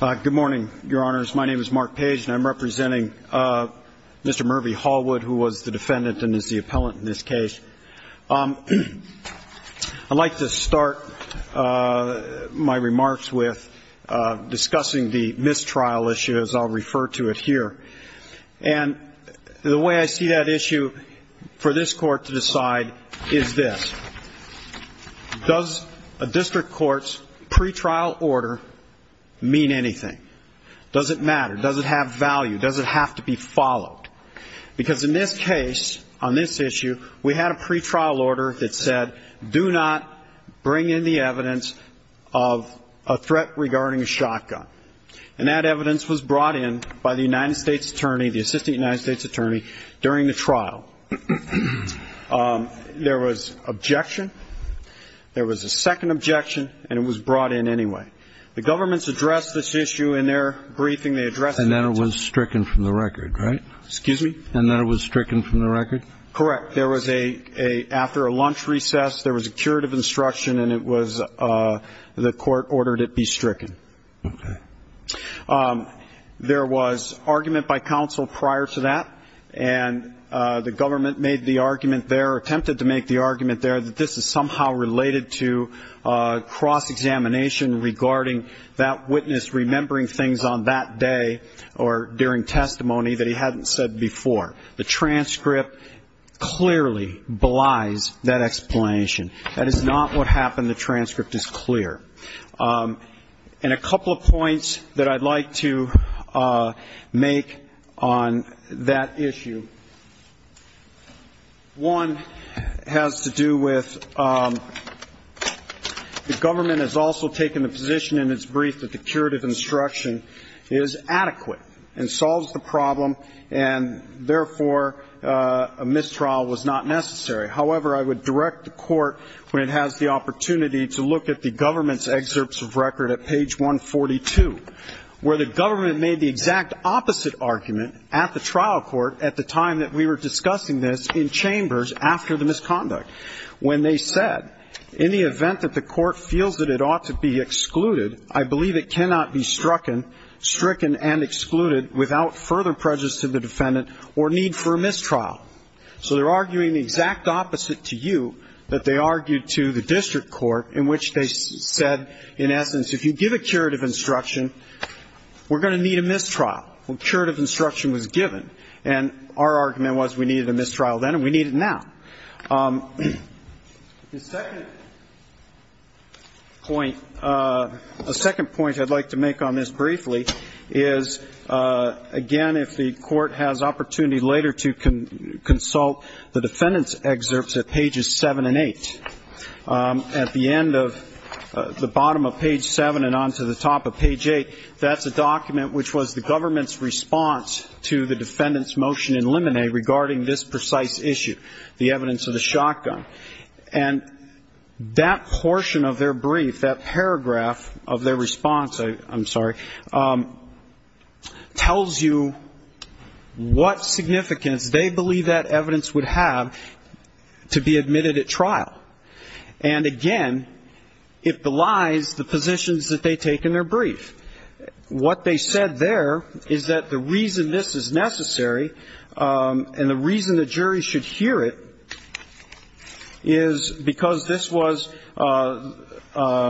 Good morning, Your Honors. My name is Mark Page, and I'm representing Mr. Murphy Halwood, who was the defendant and is the appellant in this case. I'd like to start my remarks with discussing the mistrial issue, as I'll refer to it here. And the way I see that issue for this Court to decide is this. Does a district court's pretrial order mean anything? Does it matter? Does it have value? Does it have to be followed? Because in this case, on this issue, we had a pretrial order that said, do not bring in the evidence of a threat regarding a shotgun. And that evidence was brought in by the United States attorney, the assistant United States attorney, during the trial. There was objection. There was a second objection, and it was brought in anyway. The governments addressed this issue in their briefing. They addressed it. And then it was stricken from the record, right? Excuse me? And then it was stricken from the record? Correct. There was a – after a lunch recess, there was a curative instruction, and it was – the Court ordered it be stricken. Okay. There was argument by counsel prior to that, and the government made the argument there, attempted to make the argument there, that this is somehow related to cross-examination regarding that witness remembering things on that day or during testimony that he hadn't said before. The transcript clearly belies that explanation. That is not what happened. The transcript is clear. And a couple of points that I'd like to make on that issue. One has to do with the government has also taken the position in its brief that the curative instruction is adequate and solves the problem, and therefore a mistrial was not necessary. However, I would direct the Court, when it has the opportunity, to look at the government's excerpts of record at page 142, where the government made the exact opposite argument at the trial court at the time that we were discussing this in chambers after the misconduct, when they said, in the event that the Court feels that it ought to be excluded, I believe it cannot be stricken and excluded without further prejudice to the defendant or need for a mistrial. So they're arguing the exact opposite to you that they argued to the district court, in which they said, in essence, if you give a curative instruction, we're going to need a mistrial. A curative instruction was given. And our argument was we needed a mistrial then and we need it now. The second point, a second point I'd like to make on this briefly is, again, if the Court has opportunity later to consult the defendant's excerpts at pages 7 and 8. At the end of the bottom of page 7 and on to the top of page 8, that's a document which was the government's response to the defendant's motion in Limine regarding this precise issue, the evidence of the shotgun. And that portion of their brief, that paragraph of their response, I'm sorry, tells you what significance they believe that evidence would have to be admitted at trial. And, again, it belies the positions that they take in their brief. What they said there is that the reason this is necessary and the reason the jury should hear it is because this was the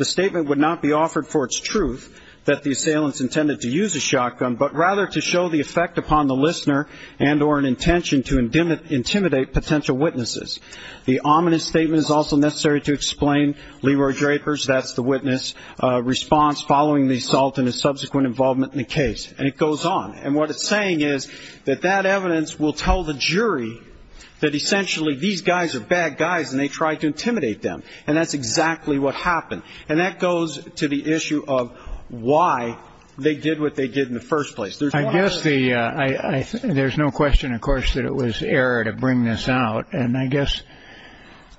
statement would not be offered for its truth, that the assailant's intended to use a shotgun, but rather to show the effect upon the listener and or an intention to intimidate potential witnesses. The ominous statement is also necessary to explain Leroy Draper's, that's the witness, response following the assault and his subsequent involvement in the case. And it goes on. And what it's saying is that that evidence will tell the jury that, essentially, these guys are bad guys and they tried to intimidate them. And that's exactly what happened. And that goes to the issue of why they did what they did in the first place. I guess there's no question, of course, that it was error to bring this out. And I guess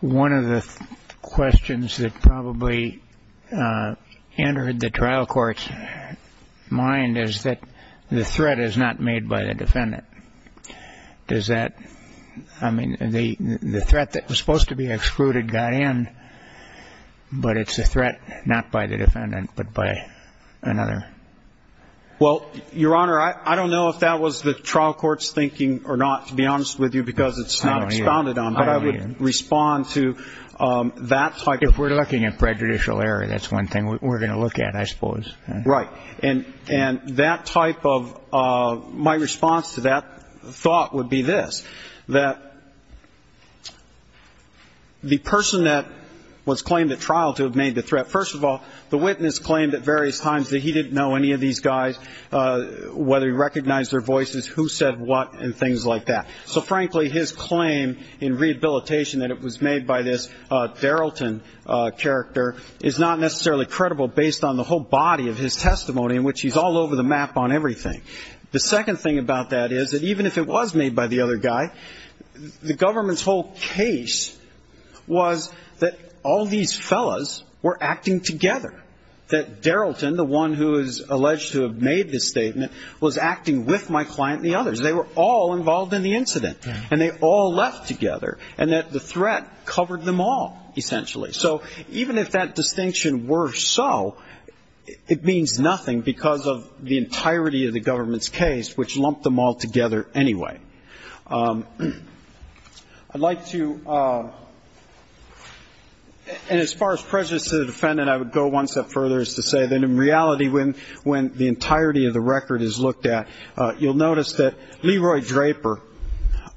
one of the questions that probably entered the trial court's mind is that the threat is not made by the defendant. Does that, I mean, the threat that was supposed to be excluded got in, but it's a threat not by the defendant but by another. Well, Your Honor, I don't know if that was the trial court's thinking or not, to be honest with you, because it's not expounded on, but I would respond to that type of. If we're looking at prejudicial error, that's one thing we're going to look at, I suppose. Right. And that type of my response to that thought would be this, that the person that was claimed at trial to have made the threat, first of all, the witness claimed at various times that he didn't know any of these guys, whether he recognized their voices, who said what, and things like that. So, frankly, his claim in rehabilitation that it was made by this Darylton character is not necessarily credible based on the whole body of his testimony in which he's all over the map on everything. The second thing about that is that even if it was made by the other guy, the government's whole case was that all these fellas were acting together, that Darylton, the one who is alleged to have made this statement, was acting with my client and the others. They were all involved in the incident, and they all left together, and that the threat covered them all, essentially. So even if that distinction were so, it means nothing because of the entirety of the government's case, which lumped them all together anyway. I'd like to, and as far as prejudice to the defendant, I would go one step further as to say that in reality when the entirety of the record is looked at, you'll notice that Leroy Draper,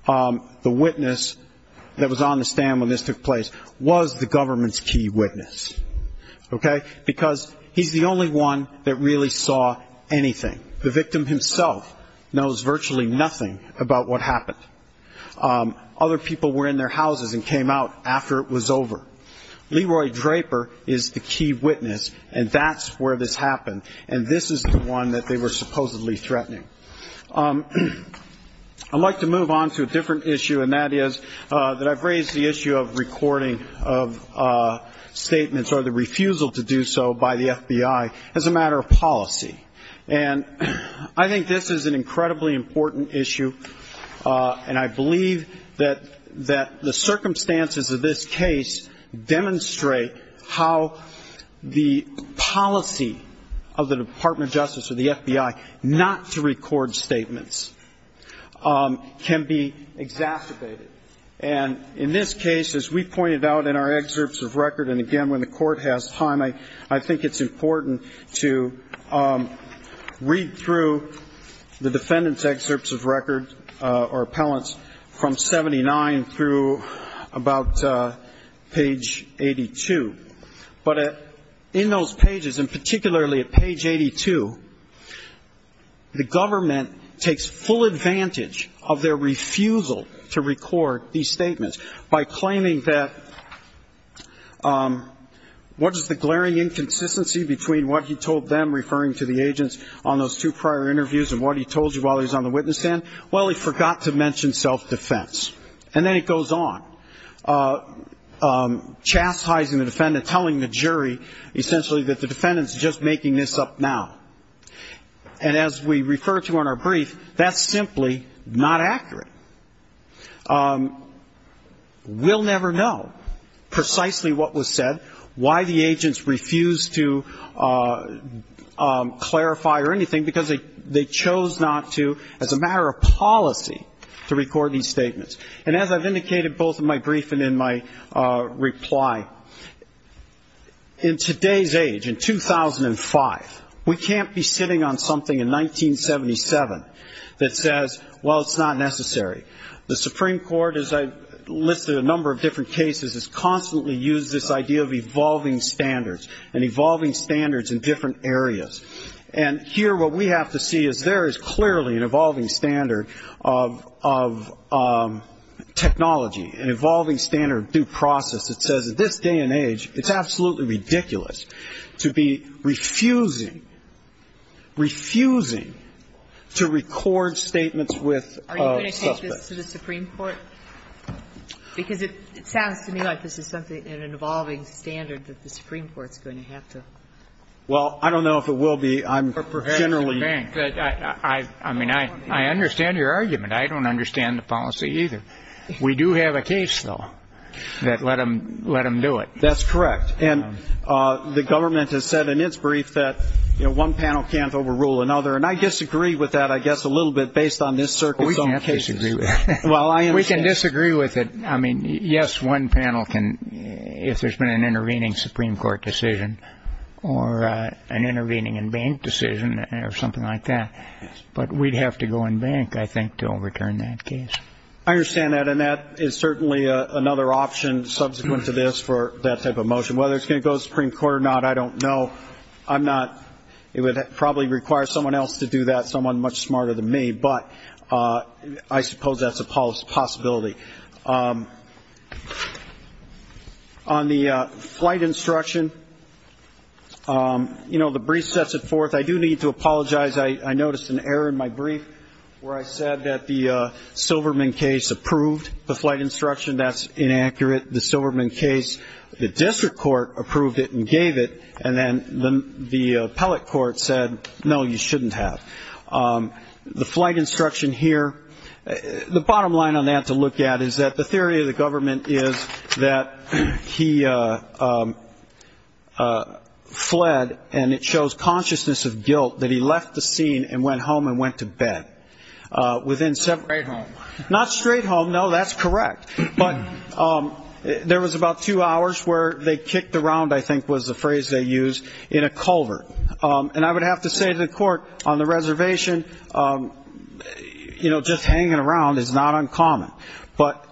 the witness that was on the stand when this took place, was the government's key witness, okay? Because he's the only one that really saw anything. The victim himself knows virtually nothing about what happened. Other people were in their houses and came out after it was over. Leroy Draper is the key witness, and that's where this happened, and this is the one that they were supposedly threatening. I'd like to move on to a different issue, and that is that I've raised the issue of recording of statements or the refusal to do so by the FBI as a matter of policy. And I think this is an incredibly important issue, and I believe that the circumstances of this case demonstrate how the policy of the Department of Justice or the FBI not to record statements can be exacerbated. And in this case, as we pointed out in our excerpts of record, and again, when the Court has time, I think it's important to read through the defendant's excerpts of record or appellant's from 79 through about page 82. But in those pages, and particularly at page 82, the government takes full advantage of their refusal to record these statements by claiming that what is the glaring inconsistency between what he told them referring to the agents on those two prior interviews and what he told you while he was on the witness stand? Well, he forgot to mention self-defense. And then it goes on, chastising the defendant, telling the jury essentially that the defendant is just making this up now. And as we refer to in our brief, that's simply not accurate. We'll never know precisely what was said, why the agents refused to clarify or anything, because they chose not to as a matter of policy to record these statements. And as I've indicated both in my brief and in my reply, in today's age, in 2005, we can't be sitting on something in 1977 that says, well, it's not necessary. The Supreme Court, as I listed a number of different cases, has constantly used this idea of evolving standards and evolving standards in different areas. And here what we have to see is there is clearly an evolving standard of technology, an evolving standard of due process that says at this day and age, it's absolutely ridiculous to be refusing, refusing to record statements with a suspect. And it's a very difficult case to go through. And we're going to have to go through the Supreme Court, because it sounds to me like this is something, an evolving standard that the Supreme Court is going to have to... Well, I don't know if it will be. I'm generally... I understand your argument. I don't understand the policy either. We do have a case, though, that let them do it. That's correct. And the government has said in its brief that one panel can't overrule another. And I disagree with that, I guess, a little bit based on this circuit's own case. We can disagree with it. I mean, yes, one panel can, if there's been an intervening Supreme Court decision or an intervening in bank decision or something like that. But we'd have to go in bank, I think, to overturn that case. I understand that, and that is certainly another option subsequent to this for that type of motion. Whether it's going to go to the Supreme Court or not, I don't know. It would probably require someone else to do that, someone much smarter than me, but I suppose that's a possibility. On the flight instruction, the brief sets it forth. I do need to apologize. I noticed an error in my brief where I said that the Silverman case approved the flight instruction. That's inaccurate, the Silverman case. The district court approved it and gave it, and then the appellate court said, no, you shouldn't have. The flight instruction here, the bottom line on that to look at is that the theory of the government is that he fled, and it shows consciousness of guilt that he left the scene and went home and went to bed. Not straight home, no, that's correct. But there was about two hours where they kicked around, I think was the phrase they used, in a culvert. And I would have to say to the court on the reservation, you know, just hanging around is not uncommon. But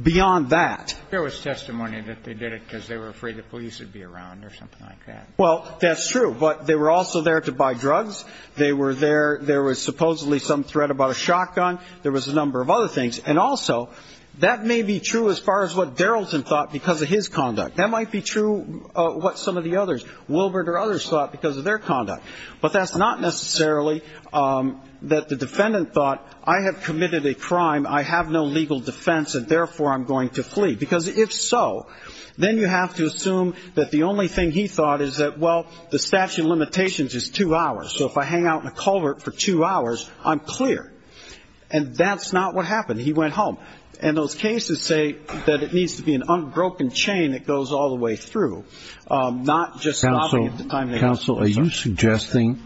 beyond that. There was testimony that they did it because they were afraid the police would be around or something like that. Well, that's true. But they were also there to buy drugs. They were there. There was supposedly some threat about a shotgun. There was a number of other things. And also, that may be true as far as what Darrelton thought because of his conduct. That might be true what some of the others, Wilbert or others, thought because of their conduct. But that's not necessarily that the defendant thought I have committed a crime, I have no legal defense, and therefore I'm going to flee. Because if so, then you have to assume that the only thing he thought is that, well, the statute of limitations is two hours. So if I hang out in a culvert for two hours, I'm clear. And that's not what happened. He went home. And those cases say that it needs to be an unbroken chain that goes all the way through, not just stopping at the time. Counsel, are you suggesting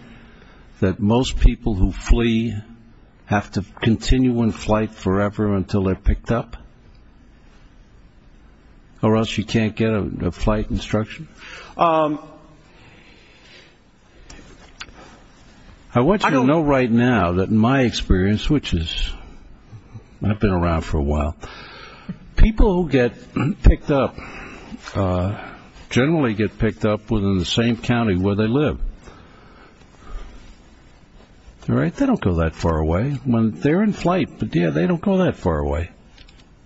that most people who flee have to continue in flight forever until they're picked up? Or else you can't get a flight instruction? I want you to know right now that in my experience, which is I've been around for a while, people who get picked up generally get picked up within the same county where they live. They don't go that far away. They're in flight, but they don't go that far away.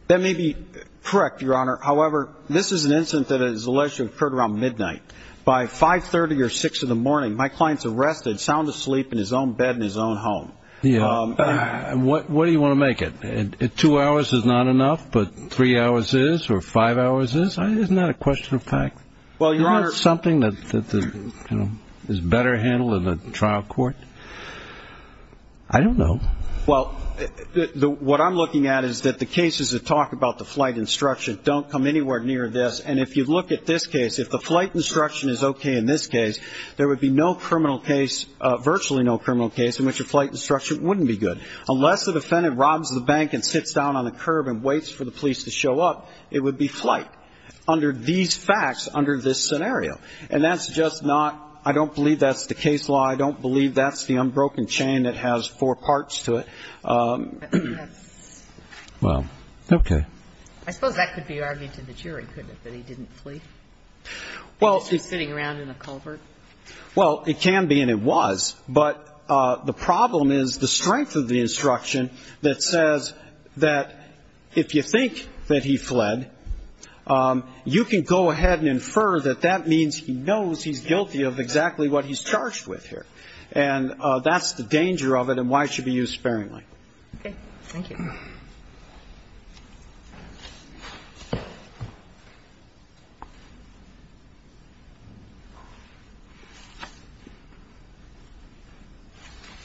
That may be correct, Your Honor. However, this is an incident that is alleged to have occurred around midnight. By 530 or 6 in the morning, my client's arrested, sound asleep in his own bed in his own home. What do you want to make it? Two hours is not enough, but three hours is or five hours is? Isn't that a question of fact? Isn't that something that is better handled in a trial court? I don't know. Well, what I'm looking at is that the cases that talk about the flight instruction don't come anywhere near this. And if you look at this case, if the flight instruction is okay in this case, there would be no criminal case, virtually no criminal case in which a flight instruction wouldn't be good. Unless the defendant robs the bank and sits down on the curb and waits for the police to show up, it would be flight under these facts, under this scenario. And that's just not, I don't believe that's the case law. I don't believe that's the unbroken chain that has four parts to it. Well, okay. I suppose that could be argued to the jury, couldn't it, that he didn't flee? Well. He was just sitting around in a culvert. Well, it can be and it was. But the problem is the strength of the instruction that says that if you think that he fled, you can go ahead and infer that that means he knows he's guilty of exactly what he's charged with here. And that's the danger of it and why it should be used sparingly. Okay. Thank you.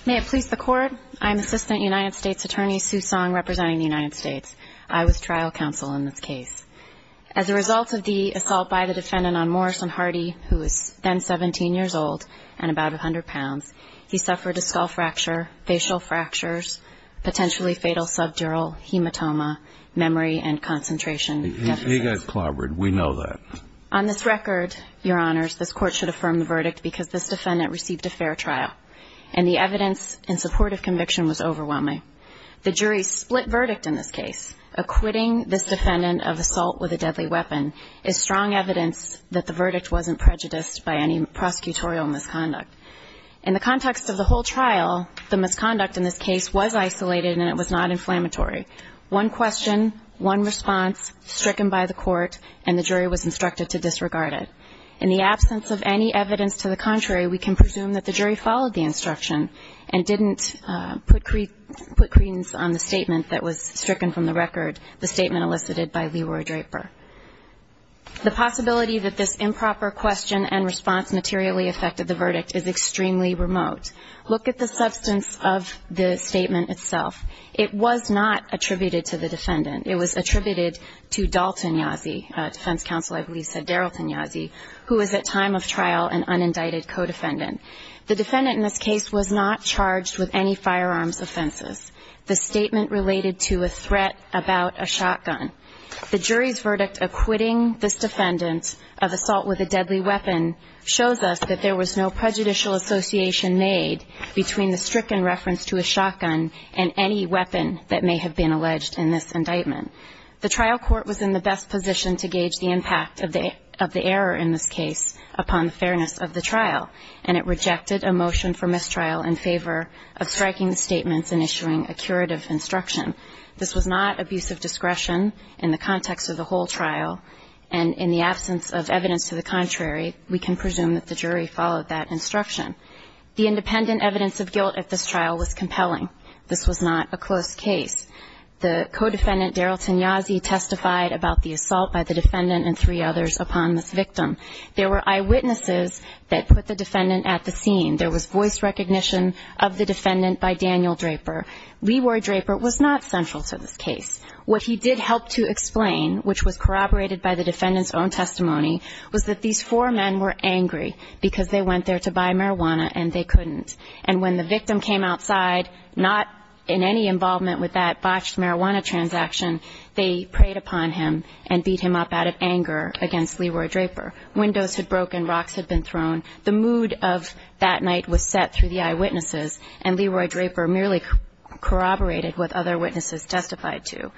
May it please the Court. I'm Assistant United States Attorney Sue Song representing the United States. I was trial counsel in this case. As a result of the assault by the defendant on Morrison Hardy, who was then 17 years old and about 100 pounds, he suffered a skull fracture, facial fractures, potentially fatal subdural hematoma, memory and concentration deficits. He got clobbered. We know that. On this record, Your Honors, this Court should affirm the verdict because this defendant received a fair trial and the evidence in support of conviction was overwhelming. The jury split verdict in this case. Acquitting this defendant of assault with a deadly weapon is strong evidence that the verdict wasn't prejudiced by any prosecutorial misconduct. In the context of the whole trial, the misconduct in this case was isolated and it was not inflammatory. One question, one response, stricken by the Court, and the jury was instructed to disregard it. In the absence of any evidence to the contrary, we can presume that the jury followed the instruction and didn't put credence on the statement that was stricken from the record, the statement elicited by Leroy Draper. The possibility that this improper question and response materially affected the verdict is extremely remote. Look at the substance of the statement itself. It was not attributed to the defendant. It was attributed to Dalton Yazzie, defense counsel, I believe said Darylton Yazzie, who was at time of trial an unindicted co-defendant. The defendant in this case was not charged with any firearms offenses. The statement related to a threat about a shotgun. The jury's verdict acquitting this defendant of assault with a deadly weapon shows us that there was no prejudicial association made between the stricken reference to a shotgun and any weapon that may have been alleged in this indictment. The trial court was in the best position to gauge the impact of the error in this case upon the fairness of the trial, and it rejected a motion for mistrial in favor of striking the statements and issuing a curative instruction. This was not abuse of discretion in the context of the whole trial, and in the absence of evidence to the contrary, we can presume that the jury followed that instruction. The independent evidence of guilt at this trial was compelling. This was not a close case. The co-defendant, Darylton Yazzie, testified about the assault by the defendant and three others upon this victim. There were eyewitnesses that put the defendant at the scene. There was voice recognition of the defendant by Daniel Draper. Leroy Draper was not central to this case. What he did help to explain, which was corroborated by the defendant's own testimony, was that these four men were angry because they went there to buy marijuana and they couldn't. And when the victim came outside, not in any involvement with that botched marijuana transaction, they preyed upon him and beat him up out of anger against Leroy Draper. Windows had broken, rocks had been thrown. The mood of that night was set through the eyewitnesses, and Leroy Draper merely corroborated what other witnesses testified to.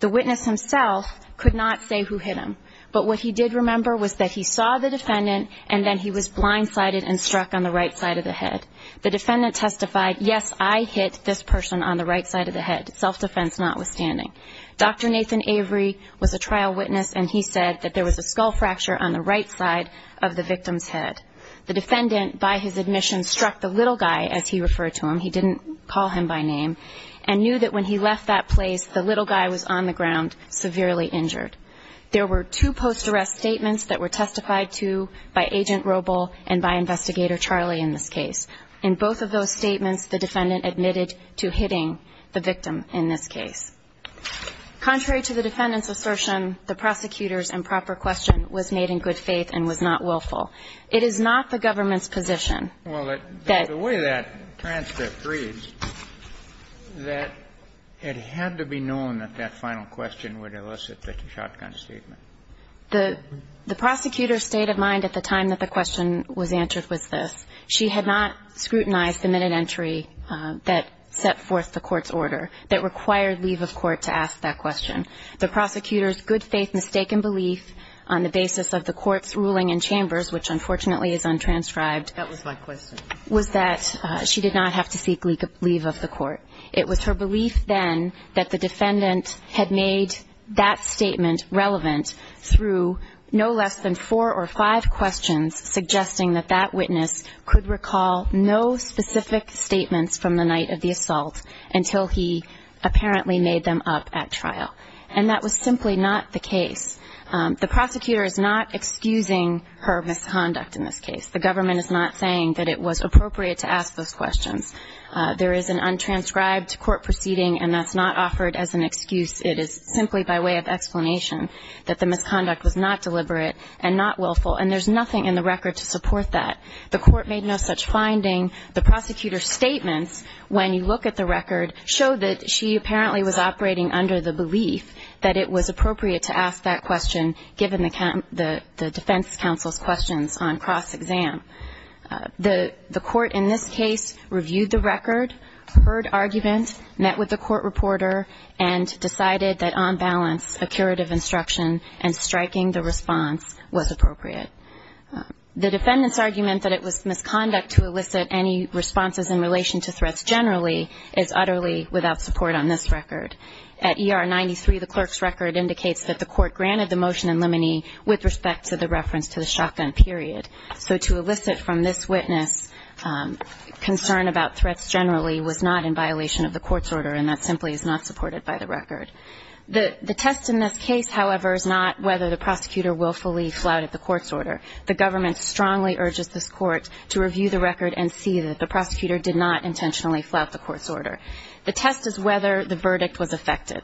The witness himself could not say who hit him, but what he did remember was that he saw the defendant and then he was blindsided and struck on the right side of the head. The defendant testified, yes, I hit this person on the right side of the head, self-defense notwithstanding. Dr. Nathan Avery was a trial witness, and he said that there was a skull fracture on the right side of the victim's head. The defendant, by his admission, struck the little guy, as he referred to him. He didn't call him by name, and knew that when he left that place, the little guy was on the ground severely injured. There were two post-arrest statements that were testified to by Agent Robel and by Investigator Charlie in this case. In both of those statements, the defendant admitted to hitting the victim in this case. Contrary to the defendant's assertion, the prosecutor's improper question was made in good faith and was not willful. It is not the government's position that the way that transcript reads, that it had to be known that that final question would elicit the shotgun statement. The prosecutor stayed in mind at the time that the question was answered was this. She had not scrutinized the minute entry that set forth the Court's order that required leave of court to ask that question. The prosecutor's good faith mistaken belief on the basis of the Court's ruling in Chambers, which unfortunately is untranscribed, was that she did not have to seek leave of the Court. It was her belief then that the defendant had made that statement relevant through no less than four or five questions suggesting that that witness could recall no specific statements from the night of the assault until he apparently made them up at trial. And that was simply not the case. The prosecutor is not excusing her misconduct in this case. The government is not saying that it was appropriate to ask those questions. There is an untranscribed court proceeding, and that's not offered as an excuse. It is simply by way of explanation that the misconduct was not deliberate and not willful, and there's nothing in the record to support that. The Court made no such finding. The prosecutor's statements, when you look at the record, show that she apparently was operating under the belief that it was appropriate to ask that question, given the defense counsel's questions on cross-exam. The Court in this case reviewed the record, heard argument, met with the court reporter, and decided that on balance a curative instruction and striking the response was appropriate. The defendant's argument that it was misconduct to elicit any responses in relation to threats generally is utterly without support on this record. At ER 93, the clerk's record indicates that the court granted the motion in limine with respect to the reference to the shotgun period. So to elicit from this witness concern about threats generally was not in violation of the court's order, and that simply is not supported by the record. The test in this case, however, is not whether the prosecutor willfully flouted the court's order. The government strongly urges this court to review the record and see that the prosecutor did not intentionally flout the court's order. The test is whether the verdict was effective.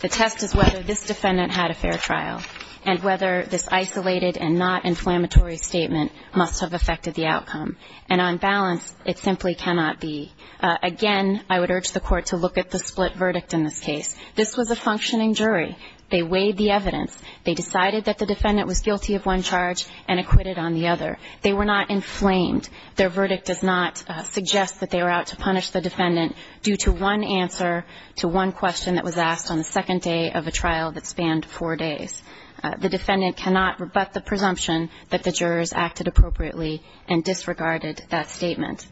The test is whether this defendant had a fair trial, and whether this isolated and not inflammatory statement must have affected the outcome. And on balance, it simply cannot be. Again, I would urge the court to look at the split verdict in this case. This was a functioning jury. They weighed the evidence. They decided that the defendant was guilty of one charge and acquitted on the other. They were not inflamed. Their verdict does not suggest that they were out to punish the defendant due to one answer to one question that was asked on the second day of a trial that spanned four days. The defendant cannot rebut the presumption that the jurors acted appropriately and disregarded that statement.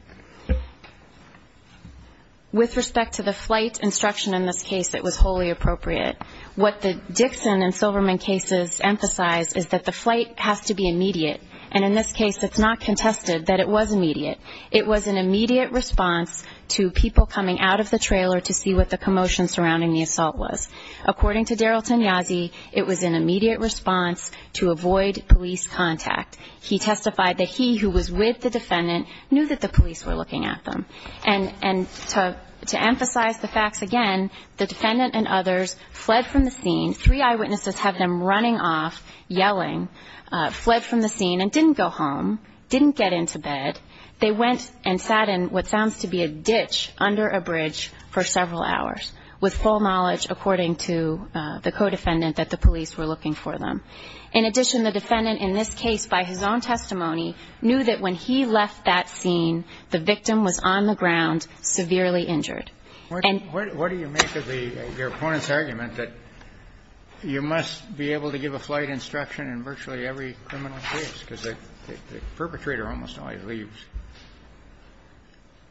With respect to the flight instruction in this case, it was wholly appropriate. What the Dixon and Silverman cases emphasize is that the flight has to be immediate. And in this case, it's not contested that it was immediate. It was an immediate response to people coming out of the trailer to see what the commotion surrounding the assault was. According to Daryl Tenyazi, it was an immediate response to avoid police contact. He testified that he, who was with the defendant, knew that the police were looking at them. And to emphasize the facts again, the defendant and others fled from the scene. Three eyewitnesses have them running off, yelling, fled from the scene and didn't go home, didn't get into bed. They went and sat in what sounds to be a ditch under a bridge for several hours with full knowledge, according to the co-defendant, that the police were looking for them. In addition, the defendant in this case, by his own testimony, knew that when he left that scene, the victim was on the ground, severely injured. And what do you make of your opponent's argument that you must be able to give a flight instruction in virtually every criminal case because the perpetrator almost always leaves?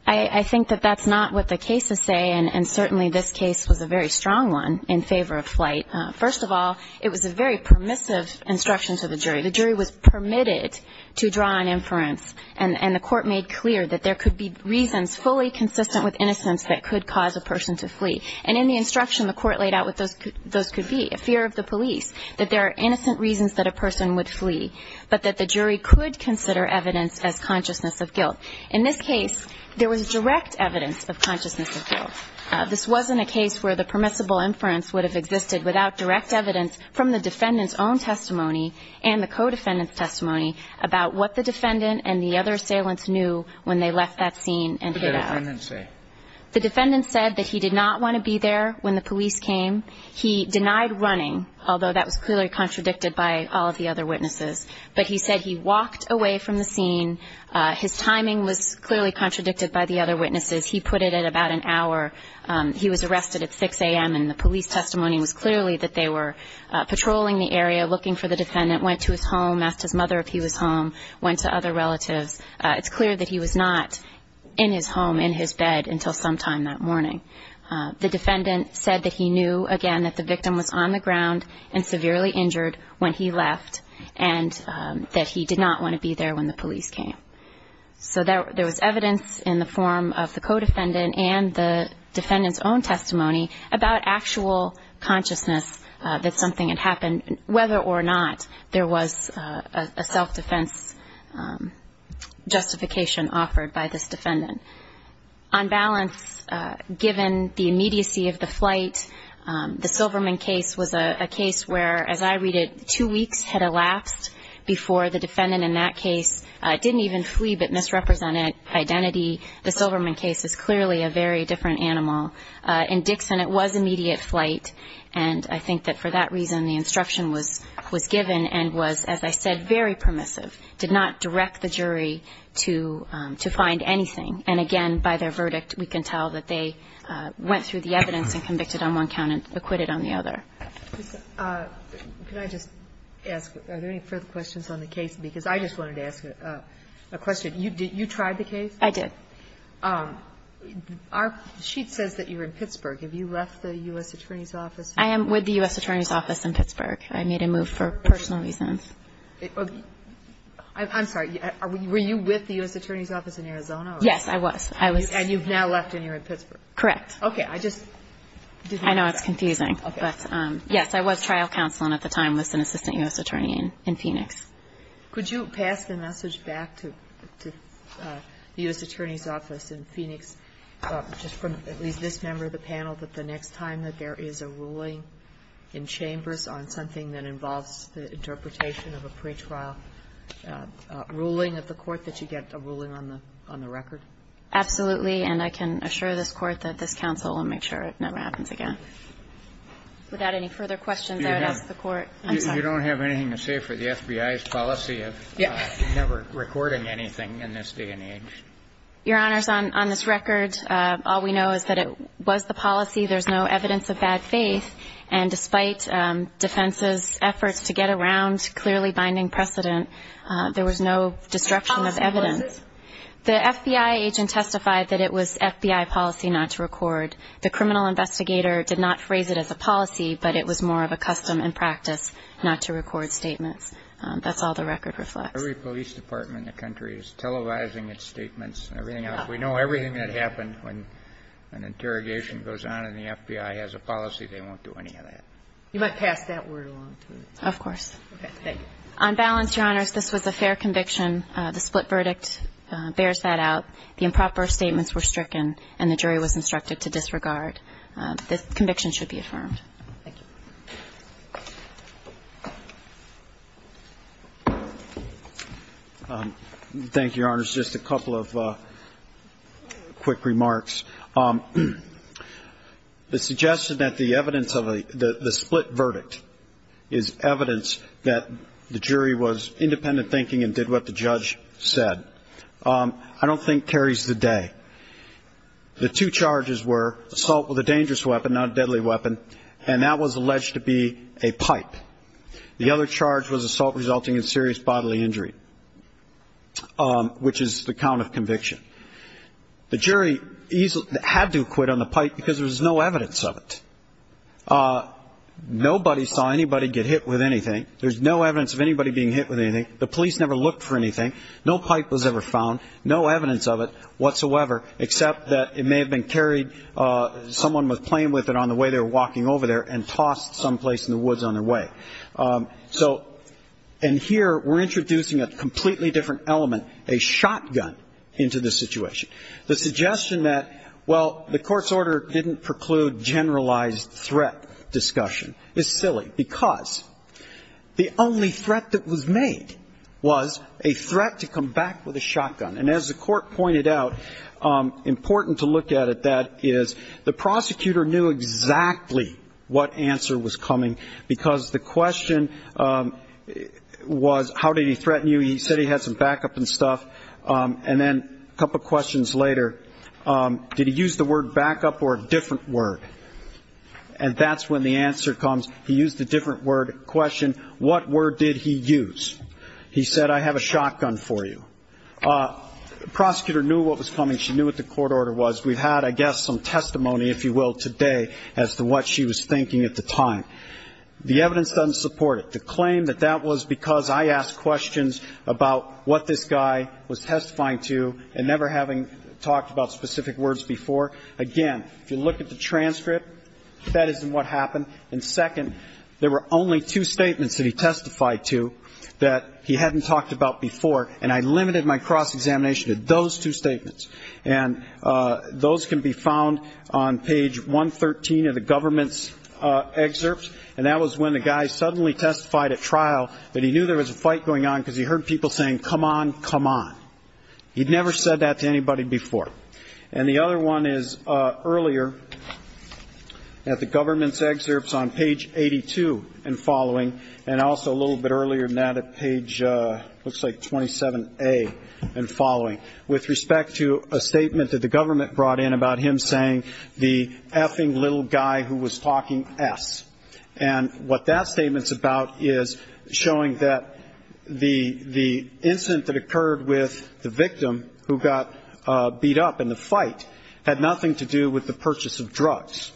I think that that's not what the cases say. And certainly this case was a very strong one in favor of flight. First of all, it was a very permissive instruction to the jury. The jury was permitted to draw an inference. And the court made clear that there could be reasons fully consistent with innocence that could cause a person to flee. And in the instruction, the court laid out what those could be, a fear of the police, that there are innocent reasons that a person would flee, but that the jury could consider evidence as consciousness of guilt. In this case, there was direct evidence of consciousness of guilt. This wasn't a case where the permissible inference would have existed without direct evidence from the defendant's own testimony and the co-defendant's testimony about what the defendant and the other assailants knew when they left that scene and hid out. What did the defendant say? The defendant said that he did not want to be there when the police came. He denied running, although that was clearly contradicted by all of the other witnesses. But he said he walked away from the scene. His timing was clearly contradicted by the other witnesses. He put it at about an hour. He was arrested at 6 a.m., and the police testimony was clearly that they were patrolling the area, looking for the defendant, went to his home, asked his mother if he was home, went to other relatives. It's clear that he was not in his home, in his bed, until sometime that morning. The defendant said that he knew, again, that the victim was on the ground and severely injured when he left and that he did not want to be there when the police came. So there was evidence in the form of the co-defendant and the defendant's own testimony about actual consciousness that something had happened, whether or not there was a self-defense justification offered by this defendant. On balance, given the immediacy of the flight, the Silverman case was a case where, as I read it, two weeks had elapsed before the defendant in that case didn't even flee but misrepresented identity. The Silverman case is clearly a very different animal. In Dixon, it was immediate flight, and I think that for that reason the instruction was given and was, as I said, very permissive, did not direct the jury to find anything. And, again, by their verdict, we can tell that they went through the evidence and convicted on one count and acquitted on the other. Can I just ask, are there any further questions on the case? Because I just wanted to ask a question. You tried the case? I did. Our sheet says that you were in Pittsburgh. Have you left the U.S. Attorney's office? I am with the U.S. Attorney's office in Pittsburgh. I made a move for personal reasons. I'm sorry. Were you with the U.S. Attorney's office in Arizona? Yes, I was. And you've now left and you're in Pittsburgh? Correct. Okay. I just didn't expect that. I know it's confusing. Okay. But, yes, I was trial counsel and at the time was an assistant U.S. attorney in Phoenix. Could you pass the message back to the U.S. Attorney's office in Phoenix, just from at least this member of the panel, that the next time that there is a ruling in chambers on something that involves the interpretation of a pretrial ruling of the court, that you get a ruling on the record? Absolutely. And I can assure this Court that this counsel will make sure it never happens again. Without any further questions, I would ask the Court. You don't have anything to say for the FBI's policy of never recording anything in this day and age? Your Honors, on this record, all we know is that it was the policy. There's no evidence of bad faith. And despite defense's efforts to get around clearly binding precedent, there was no destruction of evidence. The FBI agent testified that it was FBI policy not to record. The criminal investigator did not phrase it as a policy, but it was more of a custom and practice not to record statements. That's all the record reflects. Every police department in the country is televising its statements and everything else. We know everything that happened when an interrogation goes on and the FBI has a policy, they won't do any of that. You might pass that word along to us. Of course. Okay. Thank you. On balance, Your Honors, this was a fair conviction. The split verdict bears that out. The improper statements were stricken and the jury was instructed to disregard. The conviction should be affirmed. Thank you. Thank you, Your Honors. Just a couple of quick remarks. The suggestion that the evidence of the split verdict is evidence that the jury was independent thinking and did what the judge said I don't think carries the day. The two charges were assault with a dangerous weapon, not a deadly weapon, and that was alleged to be a pipe. The other charge was assault resulting in serious bodily injury, which is the count of conviction. The jury had to quit on the pipe because there was no evidence of it. Nobody saw anybody get hit with anything. There's no evidence of anybody being hit with anything. The police never looked for anything. No pipe was ever found. No evidence of it whatsoever, except that it may have been carried, someone was playing with it on the way they were walking over there and tossed someplace in the woods on their way. So, and here we're introducing a completely different element, a shotgun into this situation. The suggestion that, well, the court's order didn't preclude generalized threat discussion is silly because the only threat that was made was a threat to come back with a shotgun. And as the court pointed out, important to look at it that is the prosecutor knew exactly what answer was coming because the question was, how did he threaten you? He said he had some backup and stuff. And then a couple questions later, did he use the word backup or a different word? And that's when the answer comes. He used a different word. Question, what word did he use? He said, I have a shotgun for you. The prosecutor knew what was coming. She knew what the court order was. We've had, I guess, some testimony, if you will, today as to what she was thinking at the time. The evidence doesn't support it. The claim that that was because I asked questions about what this guy was testifying to and never having talked about specific words before. Again, if you look at the transcript, that isn't what happened. And second, there were only two statements that he testified to that he hadn't talked about before, and I limited my cross-examination to those two statements. And those can be found on page 113 of the government's excerpts, and that was when the guy suddenly testified at trial that he knew there was a fight going on because he heard people saying, come on, come on. He'd never said that to anybody before. And the other one is earlier at the government's excerpts on page 82 and following, and also a little bit earlier than that at page, looks like 27A and following, with respect to a statement that the government brought in about him saying, the effing little guy who was talking S. And what that statement's about is showing that the incident that occurred with the victim, who got beat up in the fight, had nothing to do with the purchase of drugs.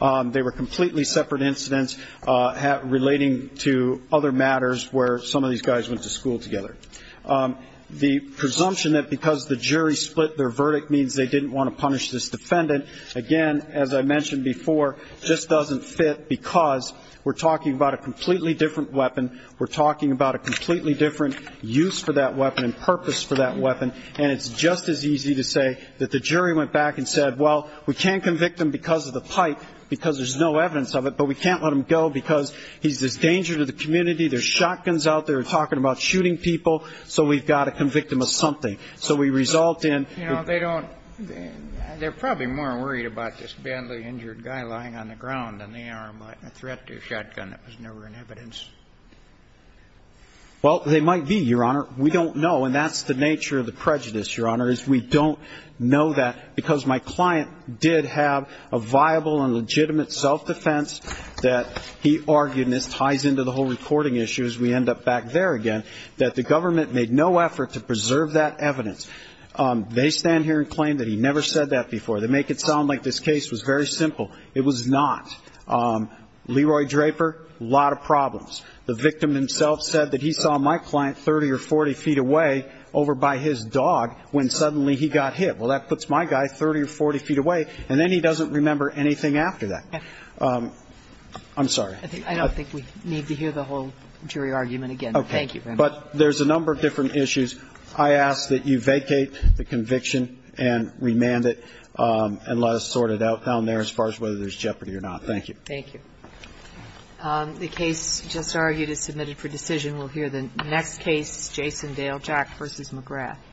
They were completely separate incidents relating to other matters where some of these guys went to school together. The presumption that because the jury split their verdict means they didn't want to punish this defendant, again, as I mentioned before, just doesn't fit because we're talking about a completely different weapon, we're talking about a completely different use for that weapon and purpose for that weapon, and it's just as easy to say that the jury went back and said, well, we can't convict him because of the pipe because there's no evidence of it, but we can't let him go because he's a danger to the community, there's shotguns out there, we're talking about shooting people, so we've got to convict him of something. So we result in the ---- You know, they don't ñ they're probably more worried about this badly injured guy lying on the ground in the arm like a threat to a shotgun that was never in evidence. Well, they might be, Your Honor. We don't know, and that's the nature of the prejudice, Your Honor, is we don't know that because my client did have a viable and legitimate self-defense that he argued, and this ties into the whole reporting issue as we end up back there again, that the government made no effort to preserve that evidence. They stand here and claim that he never said that before. They make it sound like this case was very simple. It was not. Leroy Draper, a lot of problems. The victim himself said that he saw my client 30 or 40 feet away over by his dog when suddenly he got hit. Well, that puts my guy 30 or 40 feet away, and then he doesn't remember anything after that. I'm sorry. I don't think we need to hear the whole jury argument again. Okay. Thank you very much. But there's a number of different issues. I ask that you vacate the conviction and remand it and let us sort it out down there as far as whether there's jeopardy or not. Thank you. Thank you. The case just argued is submitted for decision. We'll hear the next case, Jason Dale, Jack v. McGrath.